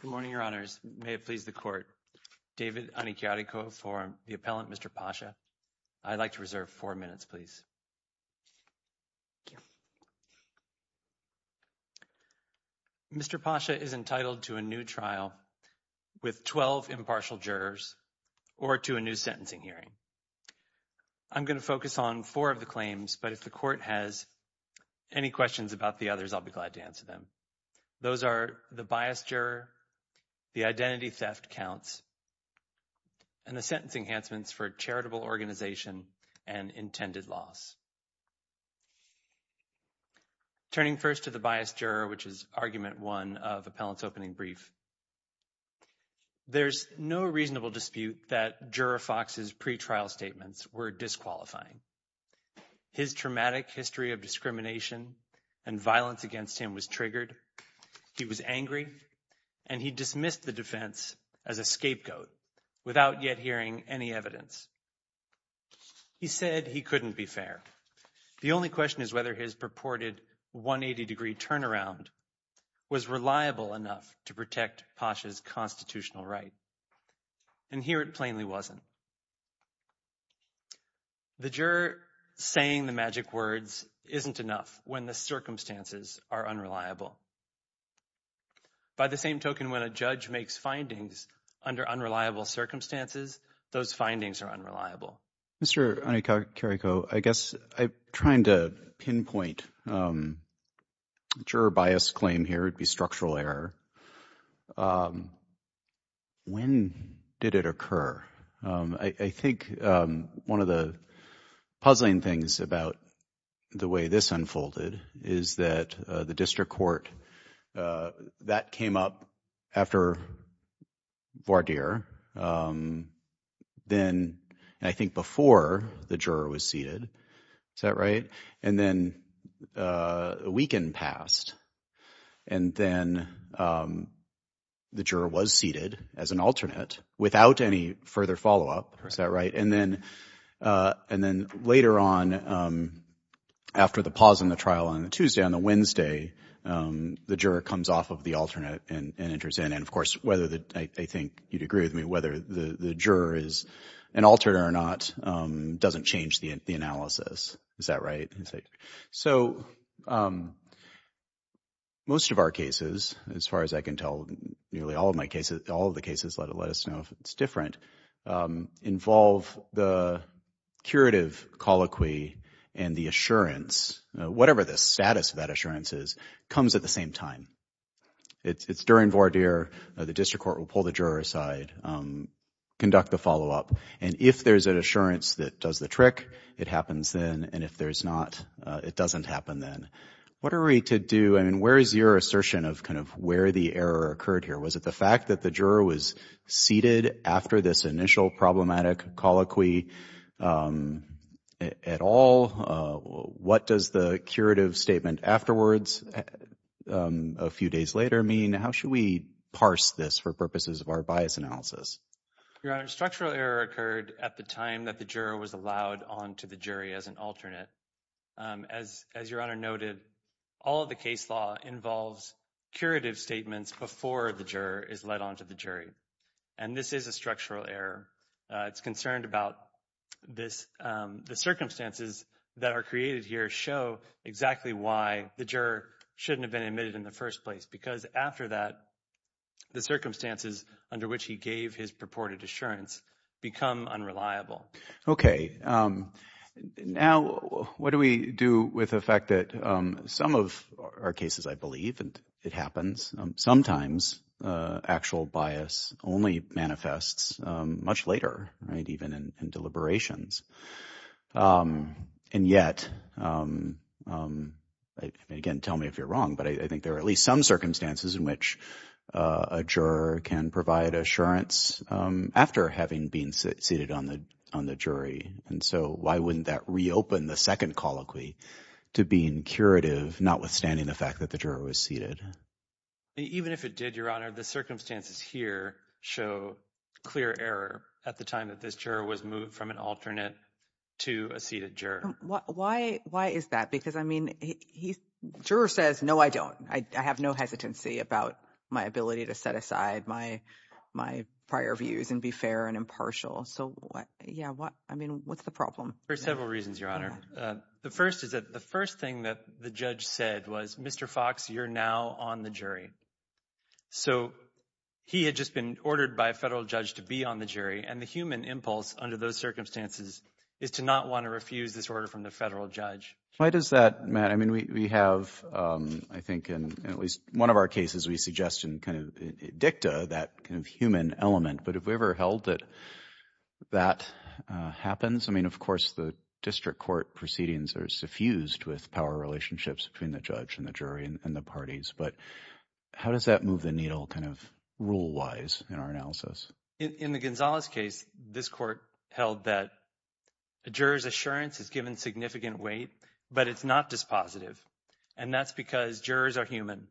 Good morning, your honors. May it please the court. David Anikyariko for the appellant, Mr. Pasha. I'd like to reserve four minutes, please. Mr. Pasha is entitled to a new trial with 12 impartial jurors or to a new sentencing hearing. I'm going to focus on four of the claims, but if the court has any questions about the others, I'll be glad to answer them. Those are the biased juror, the identity theft counts, and the sentencing enhancements for charitable organization and intended loss. Turning first to the biased juror, which is argument one of appellant's opening brief, there's no reasonable dispute that juror Fox's pretrial statements were disqualifying. His traumatic history of discrimination and violence against him was triggered, he was angry, and he dismissed the defense as a scapegoat without yet hearing any evidence. He said he couldn't be fair. The only question is whether his purported 180-degree turnaround was reliable enough to protect Pasha's constitutional right. And here it plainly wasn't. The juror saying the magic words isn't enough when the circumstances are unreliable. By the same token, when a judge makes findings under unreliable circumstances, those findings are unreliable. Mr. Anikakariko, I guess I'm trying to pinpoint juror bias claim here, it'd be structural error. When did it occur? I think one of the puzzling things about the way this unfolded is that the district court, that came up after Vardir, then I think before the juror was seated, is that right? And then a weekend passed, and then the juror was seated as an alternate without any further follow-up, is that right? And then later on, after the pause in the trial on the Tuesday, on the Wednesday, the juror comes off of the alternate and enters in. And of course, I think you'd agree with me, whether the juror is an alternate or not doesn't change the analysis, is that right? So most of our cases, as far as I can tell, nearly all of the cases let us know if it's different, involve the curative colloquy and the assurance, whatever the status of that assurance is, comes at the same time. It's during Vardir, the district court will pull the juror aside, conduct the follow-up, and if there's an assurance that does the trick, it happens then, and if there's not, it doesn't happen then. What are we to do, I mean, where is your assertion of kind of where the error occurred here? Was it the fact that the juror was seated after this initial problematic colloquy at all? What does the curative statement afterwards, a few days later, mean? How should we parse this for purposes of our bias analysis? Your Honor, a structural error occurred at the time that the juror was allowed on to the jury as an alternate. As your Honor noted, all of the case law involves curative statements before the juror is let on to the jury, and this is a structural error. It's concerned about this, the circumstances that are created here show exactly why the juror shouldn't have been admitted in the first place, because after that, the circumstances under which he gave his purported assurance become unreliable. Okay, now what do we do with the fact that some of our cases, I believe, and it happens, sometimes actual bias only manifests much later, right, even in deliberations, and yet, again, tell me if you're wrong, but I think there are at least some circumstances in which a juror can provide assurance after having been seated on the jury, and so why wouldn't that reopen the second colloquy to being curative, not withstanding the fact that the juror was seated? Even if it did, your Honor, the circumstances here show clear error at the time that this juror was moved from an alternate to a seated juror. Why is that? Because, I mean, the juror says, no, I don't. I have no hesitancy about my ability to set aside my prior views and be fair and impartial, so what, yeah, what, I mean, what's the problem? For several reasons, Your Honor. The first is that the first thing that the judge said was, Mr. Fox, you're now on the jury. So he had just been ordered by a federal judge to be on the jury, and the human impulse under those circumstances is to not want to refuse this order from the federal judge. Why does that, Matt? I mean, we have, I think, in at least one of our cases, we suggest and kind of dicta that human element, but have we ever held that that happens? I mean, of course, the district court proceedings are suffused with power relationships between the judge and the jury and the parties, but how does that move the needle kind of rule-wise in our analysis? In the Gonzalez case, this court held that a juror's assurance is given significant weight, but it's not dispositive, and that's because jurors are human.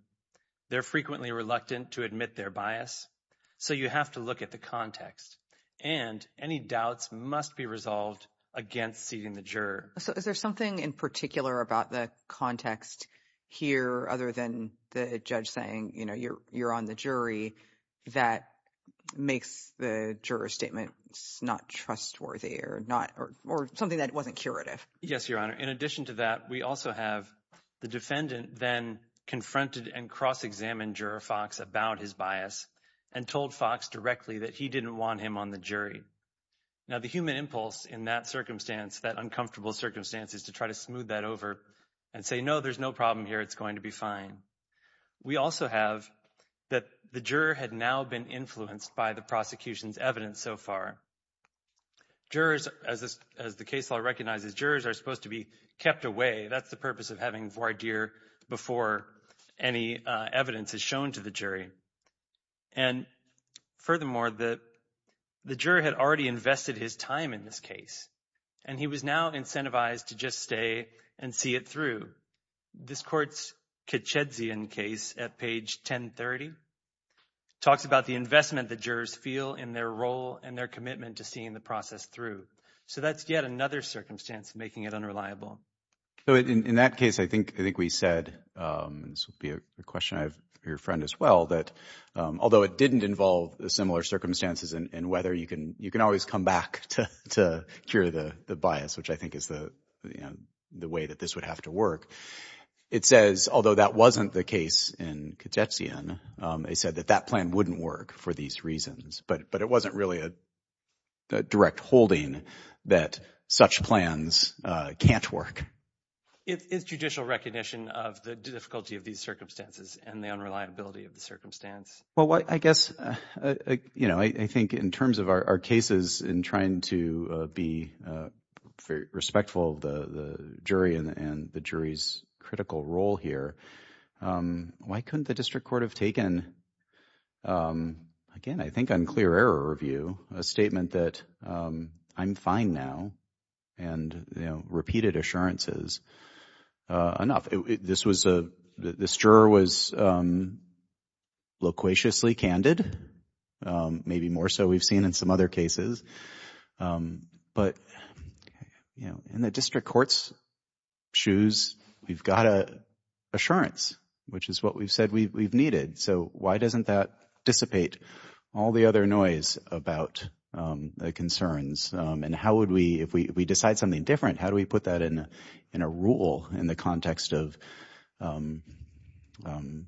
They're frequently reluctant to admit their bias, so you have to look at the context, and any doubts must be resolved against seating the juror. So is there something in particular about the context here other than the judge saying, you know, you're on the jury, that makes the juror's statement not trustworthy or not, or something that wasn't curative? Yes, Your Honor. In addition to that, we also have the defendant then confronted and cross-examined Juror Fox about his bias and told Fox directly that he didn't want him on the jury. Now, the human impulse in that circumstance, that uncomfortable circumstance, is to try to smooth that over and say, no, there's no problem here, it's going to be fine. We also have that the juror had now been influenced by the prosecution's evidence so far. Jurors, as the case law recognizes, jurors are supposed to be kept away. That's the purpose of having a quardere before any evidence is shown to the jury. And furthermore, the juror had already invested his time in this case, and he was now incentivized to just stay and see it through. This court's Kacedzian case at page 1030 talks about the investment the jurors feel in their role and their commitment to seeing the process through. So that's yet another circumstance making it reliable. So in that case, I think we said, and this would be a question I have for your friend as well, that although it didn't involve similar circumstances and whether you can always come back to cure the bias, which I think is the way that this would have to work, it says, although that wasn't the case in Kacedzian, they said that that plan wouldn't work for these reasons, but it wasn't really a direct holding that such plans can't work. Is judicial recognition of the difficulty of these circumstances and the unreliability of the circumstance? Well, I guess, you know, I think in terms of our cases in trying to be respectful of the jury and the jury's critical role here, why couldn't the district court have taken, again, I think in clear error review, a statement that I'm fine now and, you know, repeated assurances, enough. This was a, this juror was loquaciously candid, maybe more so we've seen in some other cases. But, you know, in the district court's shoes, we've got an assurance, which is what we've said we've needed. So why doesn't that dissipate all the other noise about the concerns? And how would we, if we decide something different, how do we put that in a rule in the context of an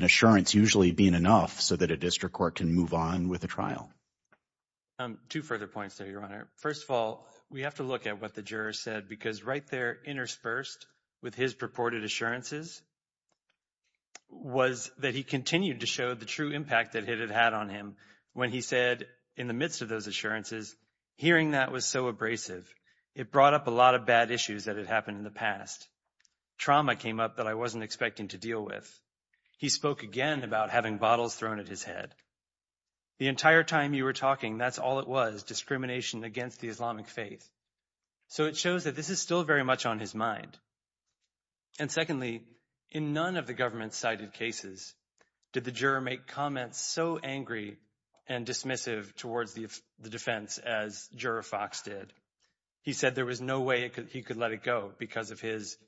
assurance usually being enough so that a district court can move on with the trial? Two further points there, Your Honor. First of all, we have to look at what the juror said, because right there, interspersed with his purported assurances, was that he continued to show the true impact that it had had on him when he said, in the midst of those assurances, hearing that was so abrasive. It brought up a lot of bad issues that had happened in the past. Trauma came up that I wasn't expecting to deal with. He spoke again about having bottles thrown at his head. The entire time you were talking, that's all it was, discrimination against the Islamic faith. So it shows that this is still very much on his mind. And secondly, in none of the government-cited cases did the juror make comments so angry and dismissive towards the defense as Juror Fox did. He said there was no way he could let it go because of his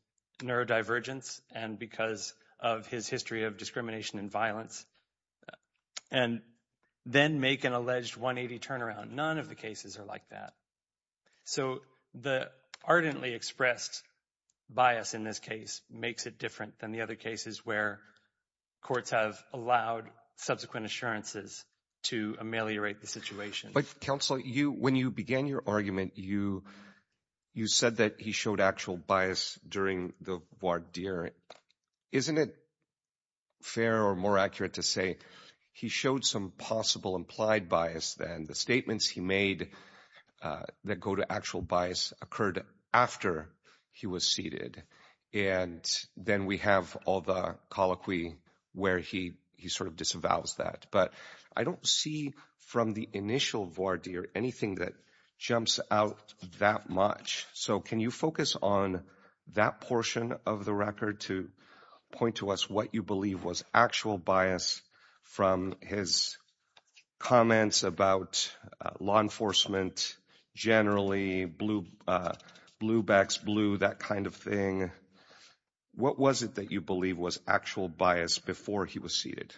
neurodivergence and because of his history of discrimination and violence, and then make an alleged 180 turnaround. None of the cases are like that. So the ardently expressed bias in this case makes it different than the other cases where courts have allowed subsequent assurances to ameliorate the situation. But counsel, when you began your argument, you said that he showed actual bias during the voir dire. Isn't it fair or more accurate to say he showed some possible implied bias than the statements he made that go to actual bias occurred after he was seated? And then we have all the colloquy where he sort of disavows that. But I don't see from the initial voir dire anything that jumps out that much. So can you focus on that portion of the record to point to us what you believe was actual bias from his comments about law enforcement generally, blue backs blue, that kind of thing? What was it that you believe was actual bias before he was seated?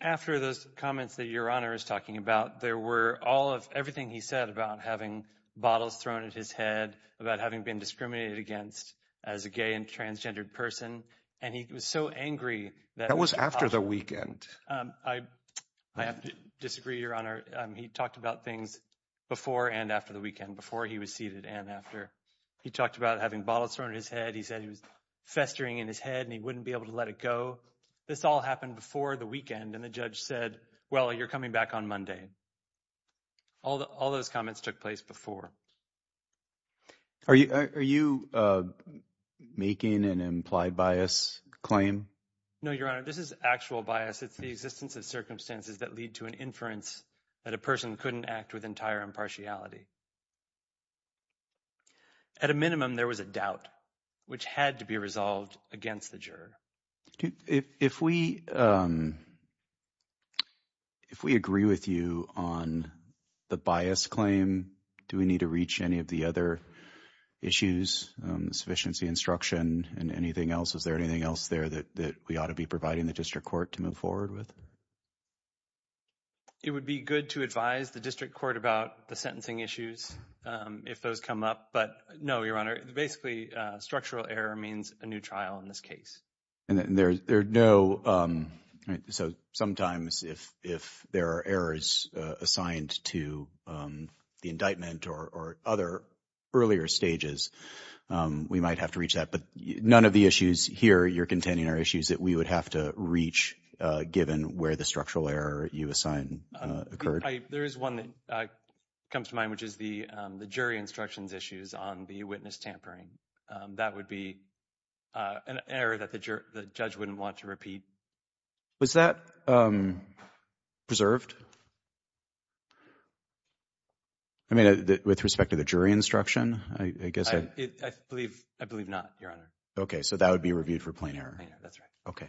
After those comments that Your Honor is talking about, there were all of everything he said about having bottles thrown at his head, about having been discriminated against as a gay and transgendered person. And he was so angry that was after the weekend. I have to disagree, Your Honor. He talked about things before and after the weekend before he was seated. And after he talked about having bottles thrown at his head, he said he was festering in his head and he wouldn't be able to let it go. This all happened before the weekend. And the judge said, well, you're coming back on Monday. All those comments took place before. Are you making an implied bias claim? No, Your Honor. This is actual bias. It's the existence of circumstances that lead to an inference that a person couldn't act with entire impartiality. At a minimum, there was a doubt which had to be resolved against the juror. If we agree with you on the bias claim, do we need to reach any of the other issues, sufficiency instruction and anything else? Is there anything else there that we ought to be providing the district court to move forward with? It would be good to advise the district court about the sentencing issues if those come up. But no, Your Honor, basically structural error means a new trial in this case. And there's no. So sometimes if if there are errors assigned to the indictment or other earlier stages, we might have to reach that. But none of the issues here you're containing are issues that we would have to reach, given where the structural error you assign occurred. There is one that comes to mind, which is the jury instructions issues on the witness tampering. That would be an error that the judge wouldn't want to repeat. Was that preserved? I mean, with respect to the jury instruction, I guess. I believe I believe not, Your Honor. OK, so that would be reviewed for plain error. That's right. OK.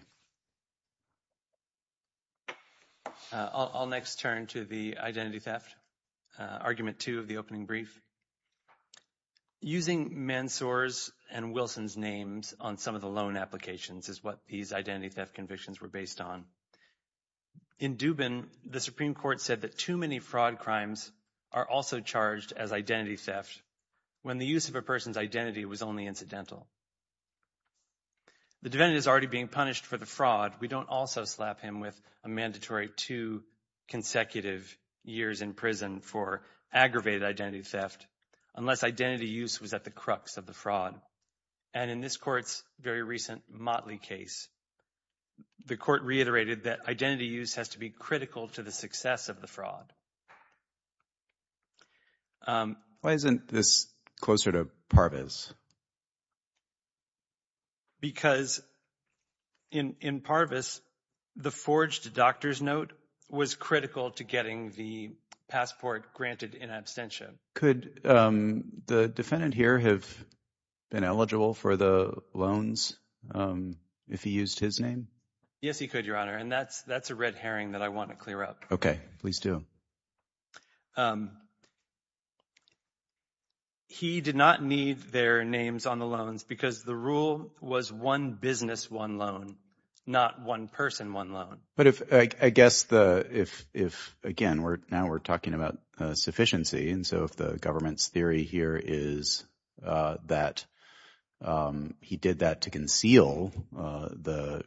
I'll next turn to the identity theft argument to the opening brief. Using Mansour's and Wilson's names on some of the loan applications is what these identity theft convictions were based on. In Dubin, the Supreme Court said that too many fraud crimes are also charged as identity theft when the use of a person's identity was only incidental. The defendant is already being punished for the fraud. We don't also slap him with a mandatory two consecutive years in prison for aggravated identity theft unless identity use was at the crux of the fraud. And in this court's very recent Motley case, the court reiterated that identity use has to be critical to the success of the fraud. Why isn't this closer to Parvez? Because in Parvez, the forged doctor's note was critical to getting the passport granted in absentia. Could the defendant here have been eligible for the loans if he used his name? Yes, he could, Your Honor. And that's that's a red herring that I want to clear up. OK, please do. He did not need their names on the loans because the rule was one business, one loan, not one person, one loan. But if I guess the if if again, we're now we're talking about sufficiency. And so if the government's theory here is that he did that to conceal the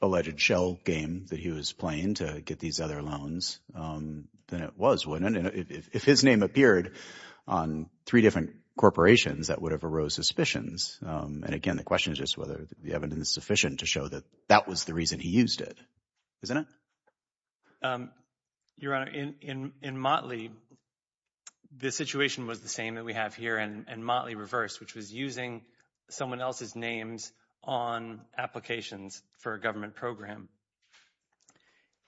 alleged shell game that he was playing to get these other loans, then it was one. And if his name appeared on three different corporations, that would have arose suspicions. And again, the question is just whether the evidence is sufficient to show that that was the reason he used it, isn't it? Your Honor, in Motley, the situation was the same that we have here and Motley reversed, which was using someone else's names on applications for a government program.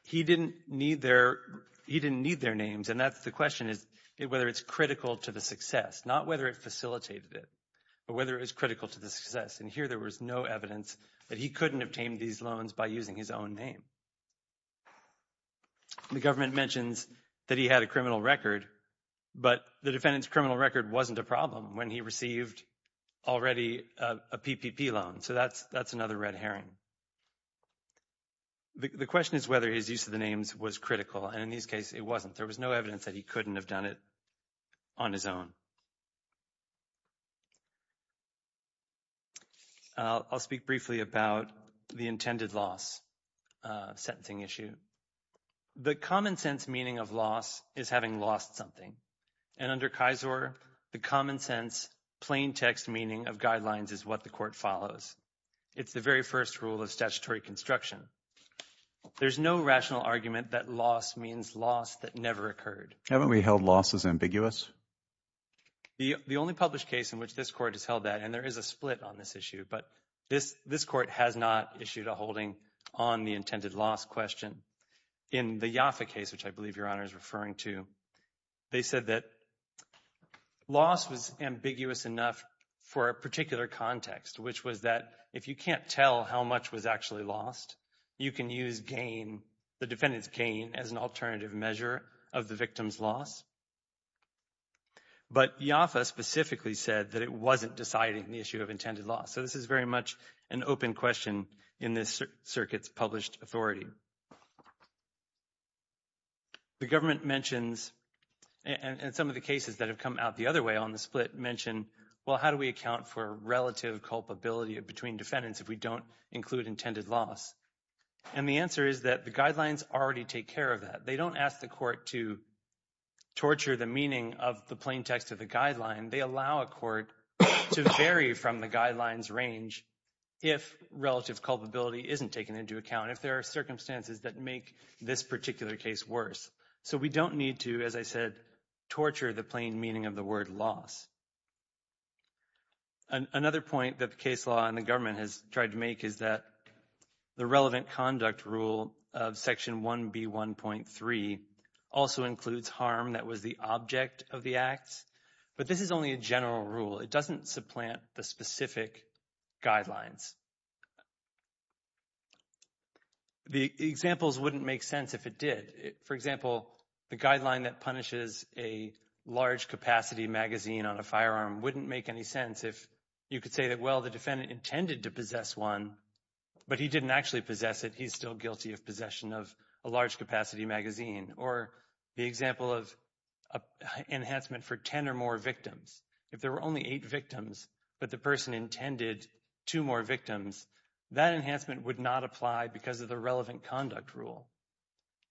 He didn't need their he didn't need their names. And that's the question is whether it's critical to the success, not whether it facilitated it, but whether it's critical to the success. And here there was no evidence that he couldn't obtain these loans by using his own name. The government mentions that he had a criminal record, but the defendant's criminal record wasn't a problem when he received already a PPP loan. So that's that's another red herring. The question is whether his use of the names was critical. And in this case, it wasn't. There was no evidence that he couldn't have done it on his own. I'll speak briefly about the intended loss sentencing issue. The common sense meaning of loss is having lost something. And under Kaiser, the common sense, plain text meaning of guidelines is what the court follows. It's the very first rule of statutory construction. There's no rational argument that loss means loss that never occurred. Haven't we held losses ambiguous? The only published case in which this court has held that, and there is a split on this issue, but this this court has not issued a holding on the intended loss question. In the Yoffa case, which I believe Your Honor is referring to, they said that loss was ambiguous enough for a particular context, which was that if you can't tell how much was actually lost, you can use gain, the defendant's gain, as an alternative measure of the victim's loss. But Yoffa specifically said that it wasn't deciding the issue of intended loss. So this is very much an open question in this circuit's published authority. The government mentions and some of the cases that have come out the other way on the split mention, well, how do we account for relative culpability between defendants if we don't include intended loss? And the answer is that the guidelines already take care of that. They don't ask the court to torture the meaning of the plain text of the guideline. They allow a court to vary from the guidelines range if relative culpability isn't taken into account, if there are circumstances that make this particular case worse. So we don't need to, as I said, torture the plain meaning of the word loss. Another point that the case law and the government has tried to make is that the relevant conduct rule of Section 1B1.3 also includes harm that was the object of the acts. But this is only a general rule. It doesn't supplant the specific guidelines. The examples wouldn't make sense if it did. For example, the guideline that punishes a large capacity magazine on a firearm wouldn't make any sense if you could say that, well, the defendant intended to possess one, but he didn't actually possess it. He's still guilty of possession of a large capacity magazine. Or the example of enhancement for 10 or more victims. If there were only eight victims, but the person intended two more victims, that enhancement would not apply because of the relevant conduct rule.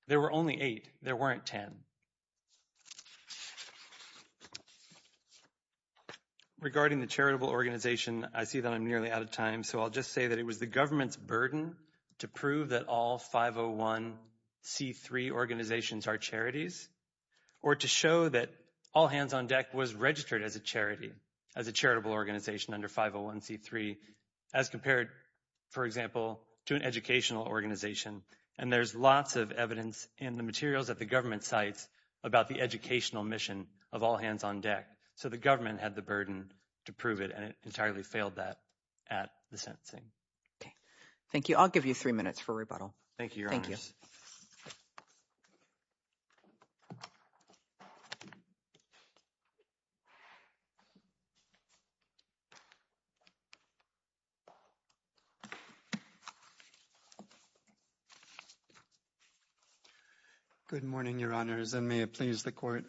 There were only eight. There weren't 10. Regarding the charitable organization, I see that I'm nearly out of time. So I'll just say that it was the government's burden to prove that all 501C3 organizations are charities, or to show that All Hands on Deck was registered as a charity, as a charitable organization under 501C3, as compared, for example, to an educational organization. And there's lots of evidence in the materials that the government cites about the educational mission of All Hands on Deck. So the government had the burden to prove it, and it entirely failed that at the sentencing. Okay. Thank you. I'll give you three minutes for rebuttal. Thank you, Your Honors. Thank you. Good morning, Your Honors, and may it please the Court.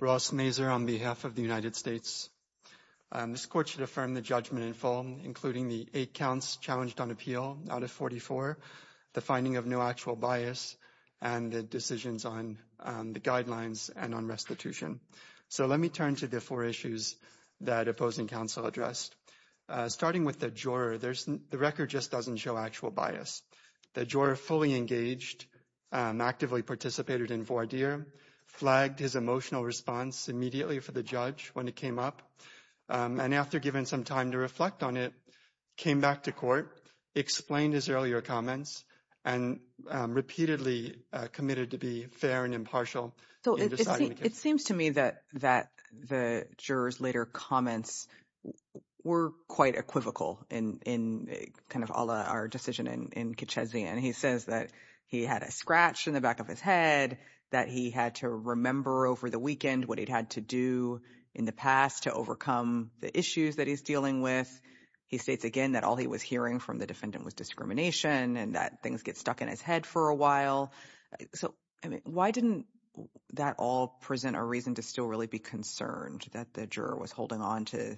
Ross Mazur on behalf of the United States. This Court should affirm the judgment in full, including the eight counts challenged on appeal out of 44, the finding of no actual bias, and the decisions on the guidelines and on restitution. So let me turn to the four issues that opposing counsel addressed. Starting with the juror, the record just doesn't show actual bias. The juror fully engaged, actively participated in voir dire, flagged his emotional response immediately for the judge when it came up, and after giving some time to reflect on it, came back to court, explained his earlier comments, and repeatedly committed to be fair and impartial in deciding the case. It seems to me that the juror's later comments were quite equivocal in kind of all our decision in Kitchezzie, and he says that he had a scratch in the back of his head, that he had to remember over the weekend what he'd had to do in the past to overcome the issues that he's dealing with. He states again that all he was hearing from the defendant was discrimination and that things get stuck in his head for a while. Why didn't that all present a reason to still really be concerned that the juror was holding on to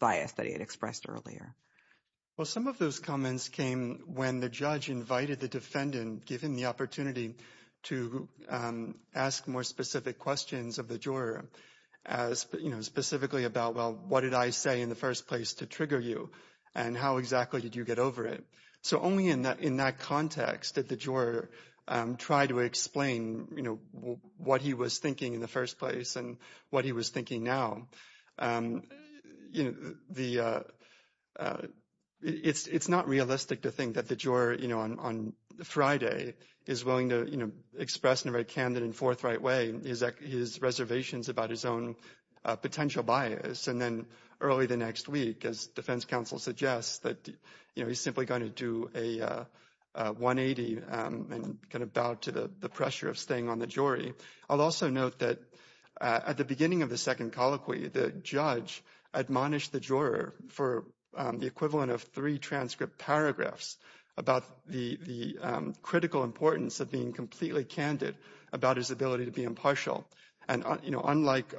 bias that he had expressed earlier? Well, some of those comments came when the judge invited the defendant, given the opportunity to ask more specific questions of the juror, specifically about, well, what did I say in the first place to trigger you, and how exactly did you get over it? So only in that context did the juror try to explain what he was thinking in the first place and what he was thinking now. It's not realistic to think that the juror on Friday is willing to express in a very candid and forthright way his reservations about his own potential bias, and then early the next week, as defense counsel suggests, that he's simply going to do a 180 and kind of bow to the pressure of staying on the jury. I'll also note that at the beginning of the second colloquy, the judge admonished the juror for the equivalent of three transcript paragraphs about the critical importance of being completely candid about his ability to be impartial. And unlike,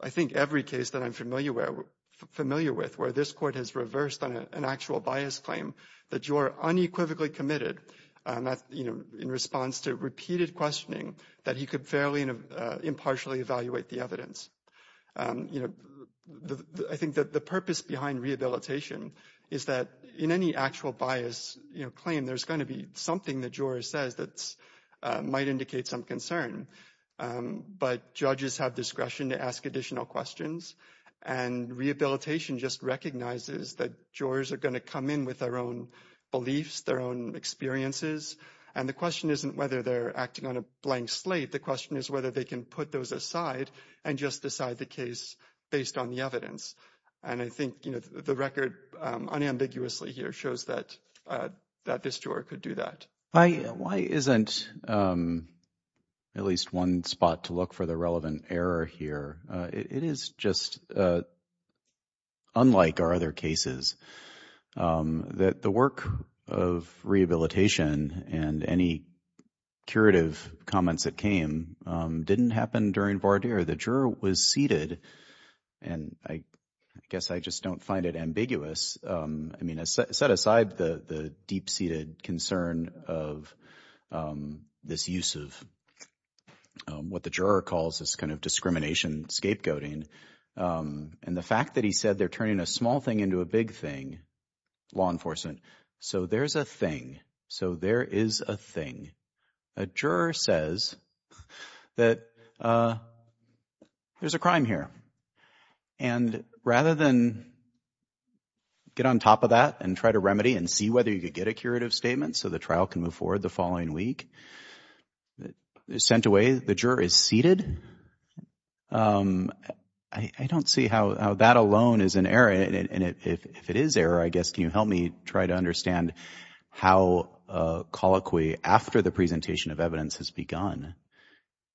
I think, every case that I'm familiar with where this Court has reversed an actual bias claim, the juror unequivocally committed in response to repeated questioning that he could fairly impartially evaluate the evidence. I think that the purpose behind rehabilitation is that in any actual bias claim, there's going to be something the juror says that might indicate some concern. But judges have discretion to ask additional questions. And rehabilitation just recognizes that jurors are going to come in with their own beliefs, their own experiences. And the question isn't whether they're acting on a blank slate. The question is whether they can put those aside and just decide the case based on the evidence. And I think the record unambiguously here shows that this juror could do that. Why isn't at least one spot to look for the relevant error here? It is just unlike our other cases that the work of rehabilitation and any curative comments that came didn't happen during Varder. The juror was seated, and I guess I just don't find it ambiguous. I mean, set aside the deep-seated concern of this use of what the juror calls this kind of discrimination, scapegoating, and the fact that he said they're turning a small thing into a big thing, law enforcement. So there's a thing. So there is a thing. A juror says that there's a crime here. And rather than get on top of that and try to remedy and see whether you could get a curative statement so the trial can move forward the following week, sent away, the juror is seated. I don't see how that alone is an error. And if it is error, I guess, can you help me try to understand how a colloquy after the presentation of evidence has begun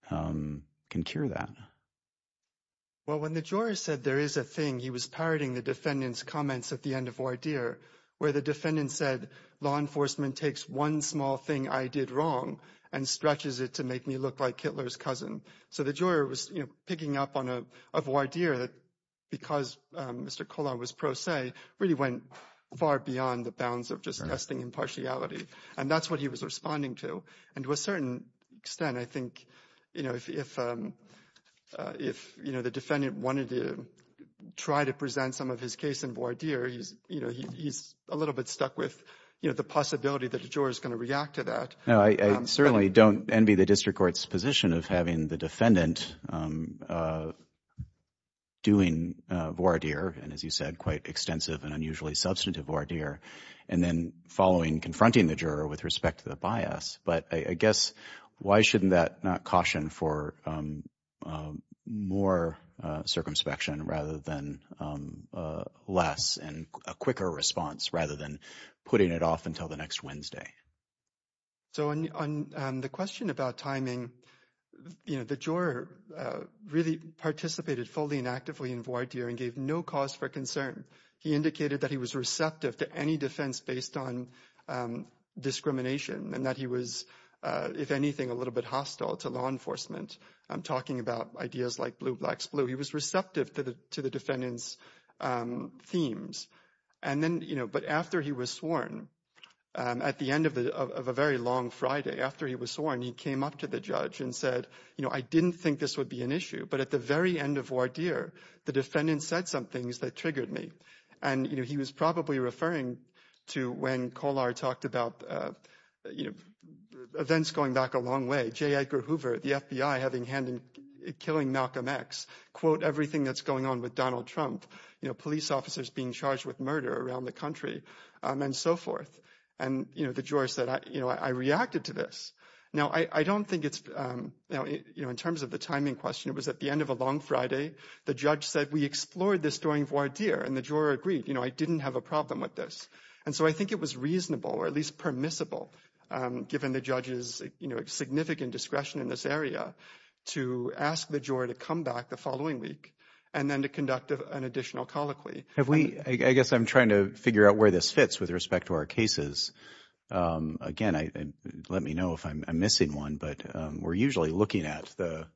can cure that? Well, when the juror said there is a thing, he was parroting the defendant's comments at the end of Varder, where the defendant said law enforcement takes one small thing I did wrong and stretches it to make me look like Hitler's cousin. So the juror was picking up on a Varder that, because Mr. Kollar was pro se, really went far beyond the bounds of just testing impartiality. And that's what he was responding to. And to a certain extent, I think, you know, if the defendant wanted to try to present some of his case in Varder, he's a little bit stuck with the possibility that the juror is going to react to that. No, I certainly don't envy the district court's position of having the defendant doing Varder, and as you said, quite extensive and unusually substantive Varder, and then following confronting the juror with respect to the bias. But I guess why shouldn't that not caution for more circumspection rather than less and a quicker response rather than putting it off until the next Wednesday? So on the question about timing, you know, the juror really participated fully and actively in Varder and gave no cause for concern. He indicated that he was receptive to any defense based on discrimination and that he was, if anything, a little bit hostile to law enforcement. I'm talking about ideas like blue, blacks, blue. He was receptive to the defendant's themes. And then, you know, but after he was sworn, at the end of a very long Friday after he was sworn, he came up to the judge and said, you know, I didn't think this would be an issue. But at the very end of Varder, the defendant said some things that triggered me. And, you know, he was probably referring to when Kollar talked about, you know, events going back a long way. J. Edgar Hoover, the FBI, having hand in killing Malcolm X, quote, everything that's going on with Donald Trump. You know, police officers being charged with murder around the country and so forth. And, you know, the juror said, you know, I reacted to this. Now, I don't think it's, you know, in terms of the timing question, it was at the end of a long Friday. The judge said we explored this during Varder and the juror agreed, you know, I didn't have a problem with this. And so I think it was reasonable or at least permissible, given the judge's, you know, significant discretion in this area to ask the juror to come back the following week and then to conduct an additional colloquy. Have we I guess I'm trying to figure out where this fits with respect to our cases. Again, let me know if I'm missing one. But we're usually looking at the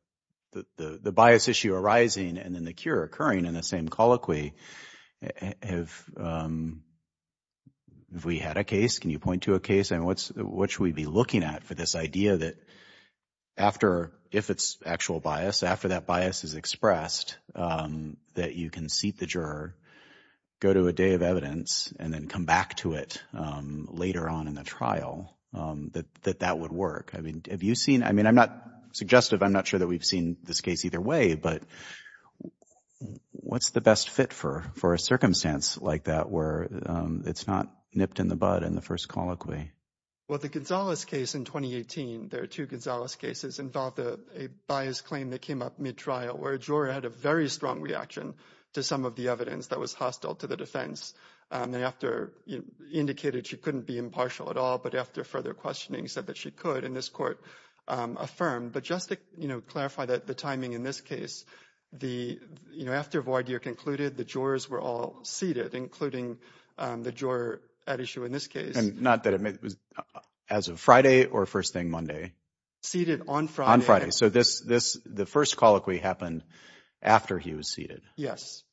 bias issue arising and then the cure occurring in the same colloquy. Have we had a case? Can you point to a case? And what should we be looking at for this idea that after if it's actual bias, after that bias is expressed, that you can seat the juror, go to a day of evidence and then come back to it later on in the trial, that that would work? I mean, have you seen I mean, I'm not suggestive. I'm not sure that we've seen this case either way. But what's the best fit for for a circumstance like that where it's not nipped in the bud in the first colloquy? Well, the Gonzales case in 2018, there are two Gonzales cases involved a bias claim that came up mid trial where a juror had a very strong reaction to some of the evidence that was hostile to the defense. They after indicated she couldn't be impartial at all. But after further questioning said that she could in this court affirm. But just to clarify that the timing in this case, the you know, after void, you concluded the jurors were all seated, including the juror at issue in this case. And not that it was as of Friday or first thing Monday. Seated on Friday. On Friday. So this this the first colloquy happened after he was seated. Yes.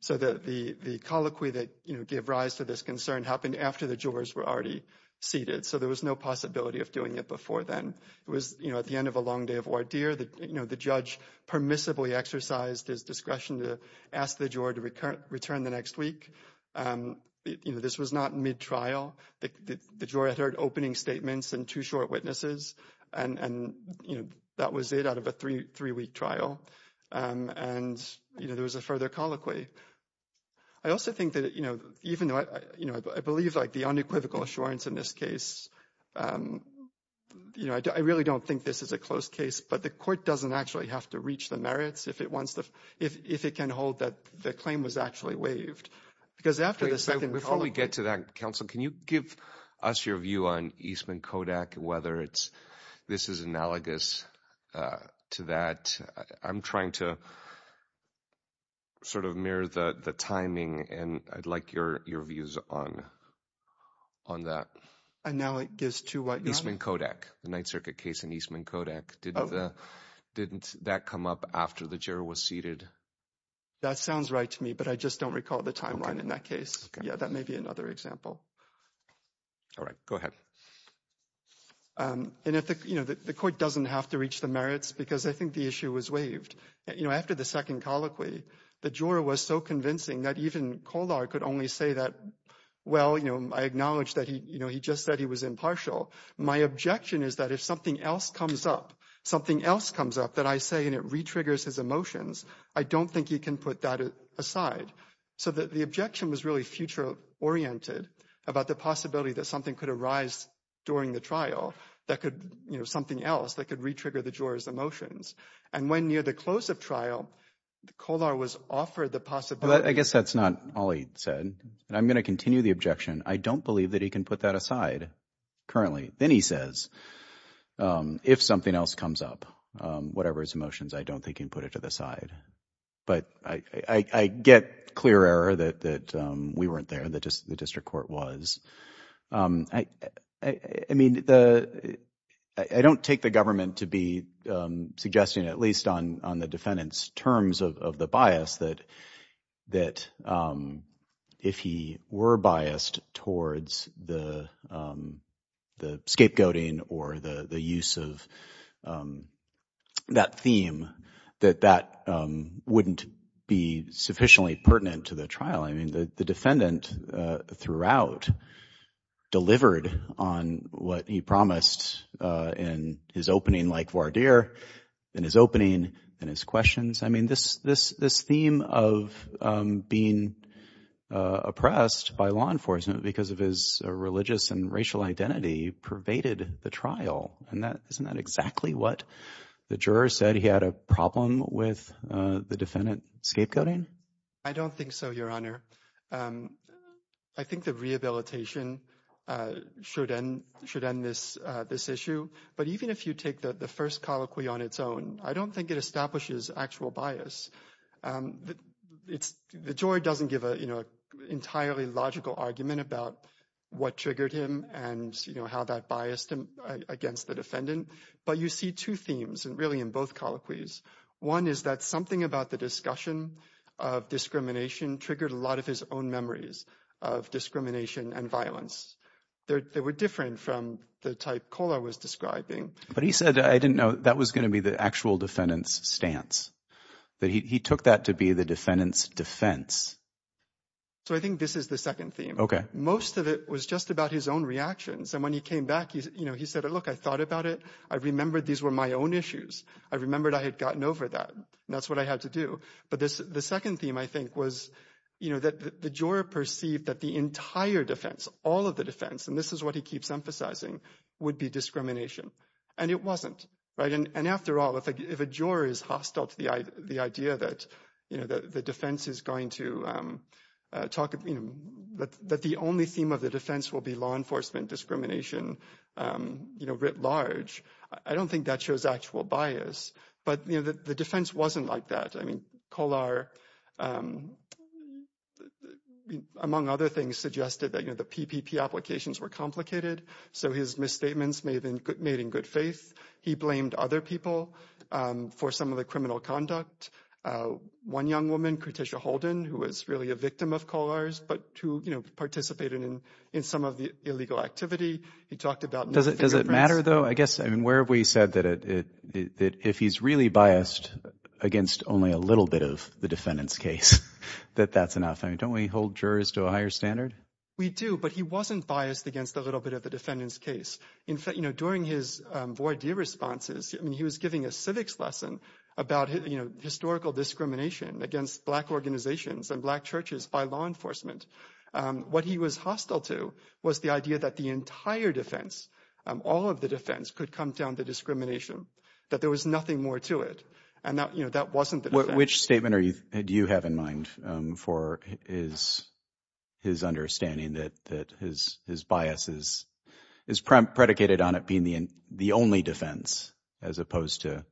So the colloquy that, you know, give rise to this concern happened after the jurors were already seated. So there was no possibility of doing it before then. It was, you know, at the end of a long day of ordeer that, you know, the judge permissibly exercised his discretion to ask the juror to return the next week. You know, this was not mid trial. The jury heard opening statements and two short witnesses. And, you know, that was it out of a three three week trial. And, you know, there was a further colloquy. I also think that, you know, even though, you know, I believe like the unequivocal assurance in this case. You know, I really don't think this is a close case, but the court doesn't actually have to reach the merits if it wants to, if it can hold that the claim was actually waived. Because after the second we get to that council, can you give us your view on Eastman Kodak? Whether it's this is analogous to that. I'm trying to sort of mirror the timing. And I'd like your views on on that. And now it gives to Eastman Kodak, the Ninth Circuit case in Eastman Kodak. Didn't that come up after the juror was seated? That sounds right to me, but I just don't recall the timeline in that case. Yeah, that may be another example. All right. Go ahead. And if, you know, the court doesn't have to reach the merits, because I think the issue was waived. You know, after the second colloquy, the juror was so convincing that even Kolar could only say that, well, you know, I acknowledge that he, you know, he just said he was impartial. My objection is that if something else comes up, something else comes up that I say and it re-triggers his emotions, I don't think he can put that aside. So that the objection was really future oriented about the possibility that something could arise during the trial that could, you know, something else that could re-trigger the juror's emotions. And when near the close of trial, Kolar was offered the possibility. I guess that's not all he said. And I'm going to continue the objection. I don't believe that he can put that aside currently. Then he says, if something else comes up, whatever his emotions, I don't think he can put it to the side. But I get clear error that we weren't there, that the district court was. I mean, I don't take the government to be suggesting, at least on the defendant's terms of the bias, that if he were biased towards the scapegoating or the use of that theme, that that wouldn't be sufficiently pertinent to the trial. I mean, the defendant throughout delivered on what he promised in his opening like Vardir, in his opening, in his questions. I mean, this theme of being oppressed by law enforcement because of his religious and racial identity pervaded the trial. And isn't that exactly what the juror said? He had a problem with the defendant scapegoating? I don't think so, Your Honor. I think the rehabilitation should end this issue. But even if you take the first colloquy on its own, I don't think it establishes actual bias. The juror doesn't give an entirely logical argument about what triggered him and how that biased him against the defendant. But you see two themes really in both colloquies. One is that something about the discussion of discrimination triggered a lot of his own memories of discrimination and violence. They were different from the type Kohler was describing. But he said, I didn't know that was going to be the actual defendant's stance, that he took that to be the defendant's defense. So I think this is the second theme. OK. Most of it was just about his own reactions. And when he came back, he said, look, I thought about it. I remembered these were my own issues. I remembered I had gotten over that. That's what I had to do. But the second theme, I think, was that the juror perceived that the entire defense, all of the defense, and this is what he keeps emphasizing, would be discrimination. And it wasn't. And after all, if a juror is hostile to the idea that the defense is going to talk, that the only theme of the defense will be law enforcement discrimination writ large, I don't think that shows actual bias. But the defense wasn't like that. I mean, Kohler, among other things, suggested that the PPP applications were complicated. So his misstatements may have been made in good faith. He blamed other people for some of the criminal conduct. One young woman, Kerticia Holden, who was really a victim of Kohler's, but who participated in some of the illegal activity. Does it matter, though? I guess, I mean, where have we said that if he's really biased against only a little bit of the defendant's case, that that's enough? I mean, don't we hold jurors to a higher standard? We do, but he wasn't biased against a little bit of the defendant's case. In fact, you know, during his voir dire responses, I mean, he was giving a civics lesson about, you know, historical discrimination against black organizations and black churches by law enforcement. What he was hostile to was the idea that the entire defense, all of the defense, could come down to discrimination, that there was nothing more to it. And, you know, that wasn't the case. Which statement do you have in mind for his understanding that his bias is predicated on it being the only defense as opposed to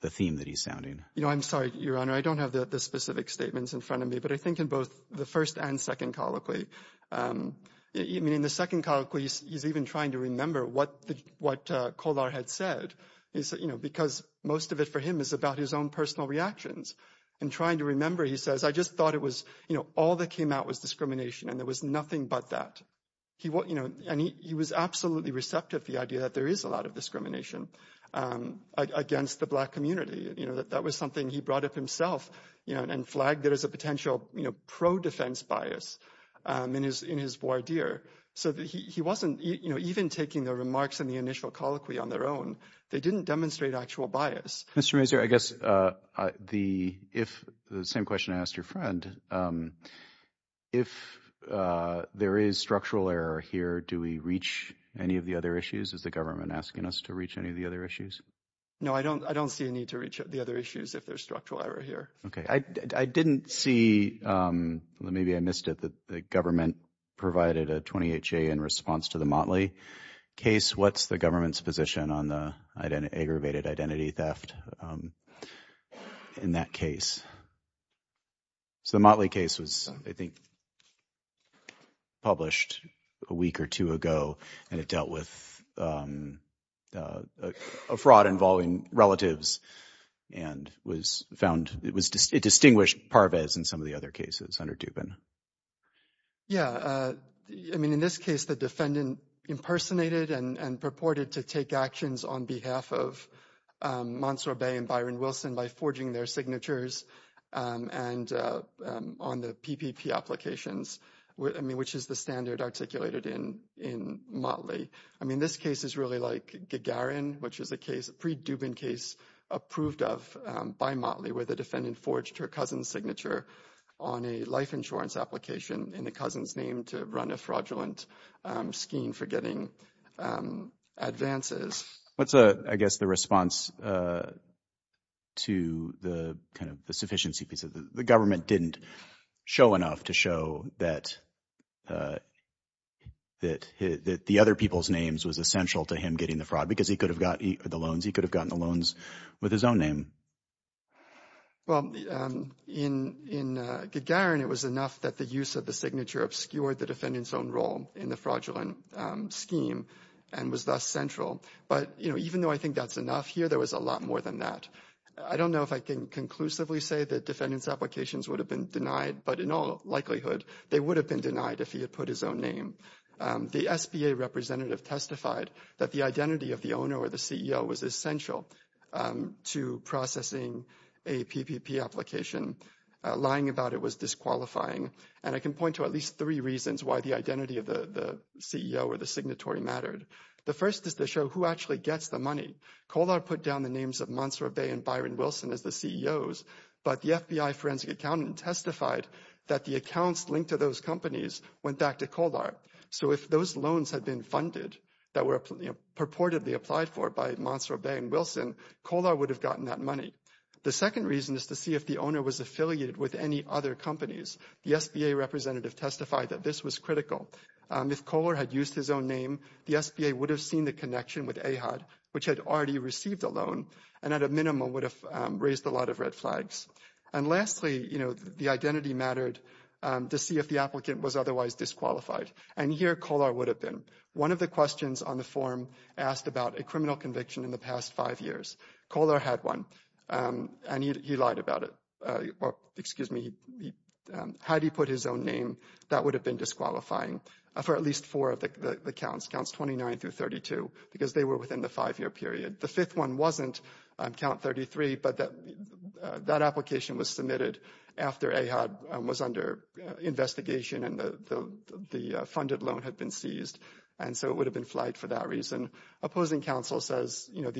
the theme that he's sounding? You know, I'm sorry, Your Honor. I don't have the specific statements in front of me, but I think in both the first and second colloquy, I mean, in the second colloquy, he's even trying to remember what Kolar had said. You know, because most of it for him is about his own personal reactions. In trying to remember, he says, I just thought it was, you know, all that came out was discrimination and there was nothing but that. You know, and he was absolutely receptive to the idea that there is a lot of discrimination against the black community. You know, that was something he brought up himself and flagged it as a potential pro-defense bias in his voir dire. So he wasn't even taking the remarks in the initial colloquy on their own. They didn't demonstrate actual bias. Mr. Mazur, I guess the same question I asked your friend, if there is structural error here, do we reach any of the other issues? Is the government asking us to reach any of the other issues? No, I don't. I don't see a need to reach the other issues if there's structural error here. OK, I didn't see. Maybe I missed it. The government provided a 28-J in response to the Motley case. What's the government's position on the aggravated identity theft in that case? So the Motley case was, I think, published a week or two ago and it dealt with a fraud involving relatives and was found. It distinguished Parvez in some of the other cases under Dubin. Yeah. I mean, in this case, the defendant impersonated and purported to take actions on behalf of Mansour Bey and Byron Wilson by forging their signatures and on the PPP applications, which is the standard articulated in Motley. I mean, this case is really like Gagarin, which is a case, a pre-Dubin case approved of by Motley where the defendant forged her cousin's signature on a life insurance application in the cousin's name to run a fraudulent scheme for getting advances. What's, I guess, the response to the kind of the sufficiency piece? The government didn't show enough to show that the other people's names was essential to him getting the fraud because he could have gotten the loans with his own name. Well, in Gagarin, it was enough that the use of the signature obscured the defendant's own role in the fraudulent scheme and was thus central. But, you know, even though I think that's enough here, there was a lot more than that. I don't know if I can conclusively say that defendant's applications would have been denied, but in all likelihood, they would have been denied if he had put his own name. The SBA representative testified that the identity of the owner or the CEO was essential to processing a PPP application. Lying about it was disqualifying. And I can point to at least three reasons why the identity of the CEO or the signatory mattered. The first is to show who actually gets the money. Kolar put down the names of Montserrat Bay and Byron Wilson as the CEOs, but the FBI forensic accountant testified that the accounts linked to those companies went back to Kolar. So if those loans had been funded that were purportedly applied for by Montserrat Bay and Wilson, Kolar would have gotten that money. The second reason is to see if the owner was affiliated with any other companies. The SBA representative testified that this was critical. If Kolar had used his own name, the SBA would have seen the connection with AHAD, which had already received a loan, and at a minimum would have raised a lot of red flags. And lastly, you know, the identity mattered to see if the applicant was otherwise disqualified. And here, Kolar would have been. One of the questions on the form asked about a criminal conviction in the past five years. Kolar had one, and he lied about it. Excuse me. Had he put his own name, that would have been disqualifying for at least four of the accounts, counts 29 through 32, because they were within the five-year period. The fifth one wasn't, count 33, but that application was submitted after AHAD was under investigation and the funded loan had been seized, and so it would have been flagged for that reason. Opposing counsel says, you know,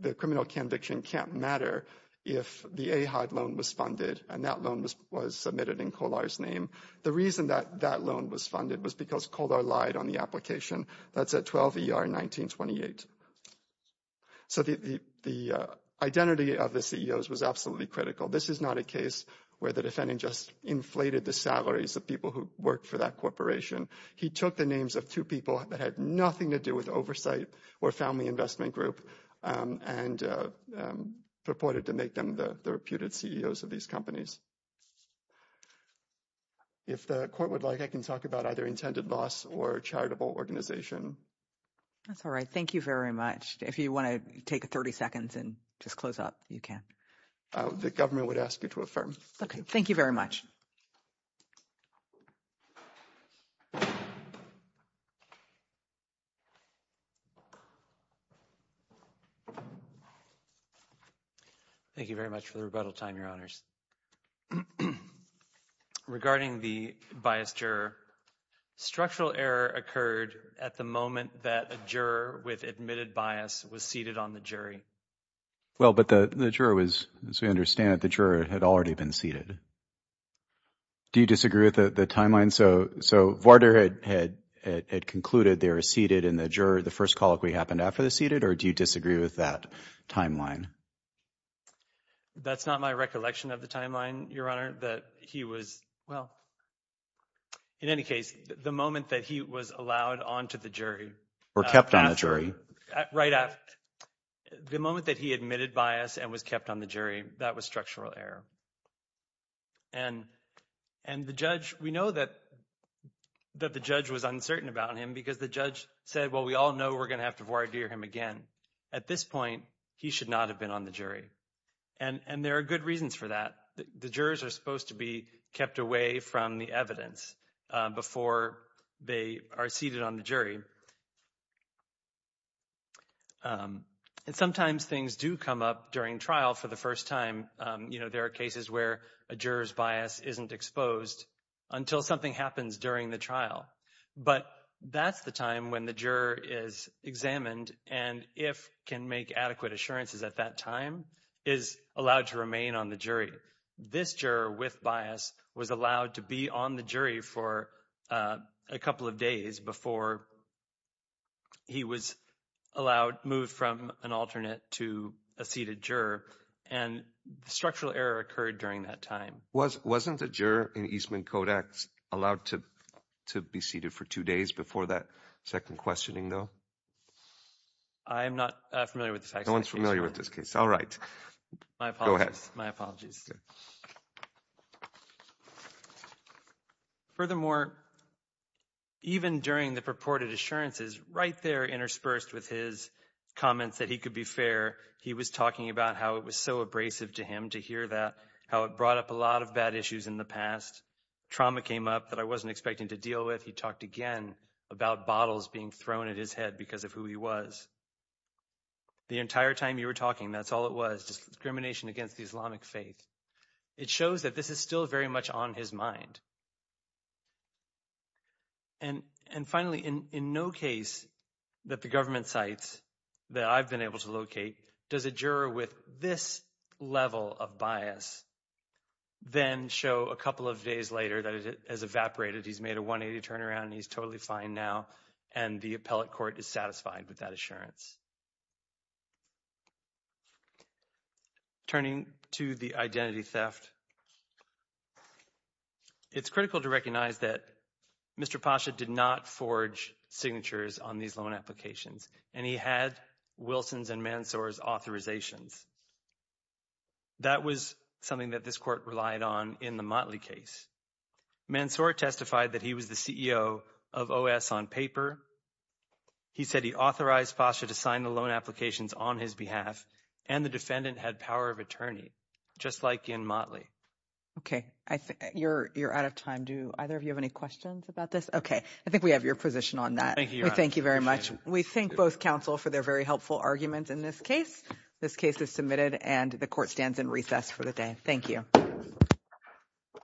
the criminal conviction can't matter if the AHAD loan was funded and that loan was submitted in Kolar's name. The reason that that loan was funded was because Kolar lied on the application. That's at 12 ER 1928. So the identity of the CEOs was absolutely critical. This is not a case where the defendant just inflated the salaries of people who worked for that corporation. He took the names of two people that had nothing to do with oversight or family investment group and purported to make them the reputed CEOs of these companies. If the court would like, I can talk about either intended loss or charitable organization. That's all right. Thank you very much. If you want to take 30 seconds and just close up, you can. The government would ask you to affirm. OK, thank you very much. Thank you very much for the rebuttal time, your honors. Regarding the biased juror, structural error occurred at the moment that a juror with admitted bias was seated on the jury. Well, but the juror was, as we understand it, the juror had already been seated. Do you disagree with the timeline? So so Vardar had had it concluded they were seated in the juror. The first call we happened after the seated. Or do you disagree with that timeline? That's not my recollection of the timeline, your honor, that he was. Well, in any case, the moment that he was allowed onto the jury or kept on a jury right out, the moment that he admitted bias and was kept on the jury. That was structural error. And and the judge, we know that that the judge was uncertain about him because the judge said, well, we all know we're going to have to voir dire him again. At this point, he should not have been on the jury. And there are good reasons for that. The jurors are supposed to be kept away from the evidence before they are seated on the jury. And sometimes things do come up during trial for the first time. You know, there are cases where a juror's bias isn't exposed until something happens during the trial. But that's the time when the juror is examined and if can make adequate assurances at that time is allowed to remain on the jury. This juror with bias was allowed to be on the jury for a couple of days before. He was allowed moved from an alternate to a seated juror and structural error occurred during that time. Was wasn't a juror in Eastman Kodak's allowed to to be seated for two days before that second questioning, though? I am not familiar with the facts. No one's familiar with this case. All right. I apologize. My apologies. Furthermore. Even during the purported assurances right there interspersed with his comments that he could be fair. He was talking about how it was so abrasive to him to hear that, how it brought up a lot of bad issues in the past. Trauma came up that I wasn't expecting to deal with. He talked again about bottles being thrown at his head because of who he was. The entire time you were talking, that's all it was discrimination against the Islamic faith. It shows that this is still very much on his mind. And and finally, in no case that the government sites that I've been able to locate, does a juror with this level of bias? Then show a couple of days later that it has evaporated. He's made a 180 turnaround and he's totally fine now. And the appellate court is satisfied with that assurance. Turning to the identity theft. It's critical to recognize that Mr. Pasha did not forge signatures on these loan applications. And he had Wilson's and Mansour's authorizations. That was something that this court relied on in the Motley case. Mansour testified that he was the CEO of OS on paper. He said he authorized posture to sign the loan applications on his behalf. And the defendant had power of attorney, just like in Motley. OK, I think you're you're out of time. Do either of you have any questions about this? OK, I think we have your position on that. Thank you. Thank you very much. We think both counsel for their very helpful arguments in this case. This case is submitted and the court stands in recess for the day. Thank you.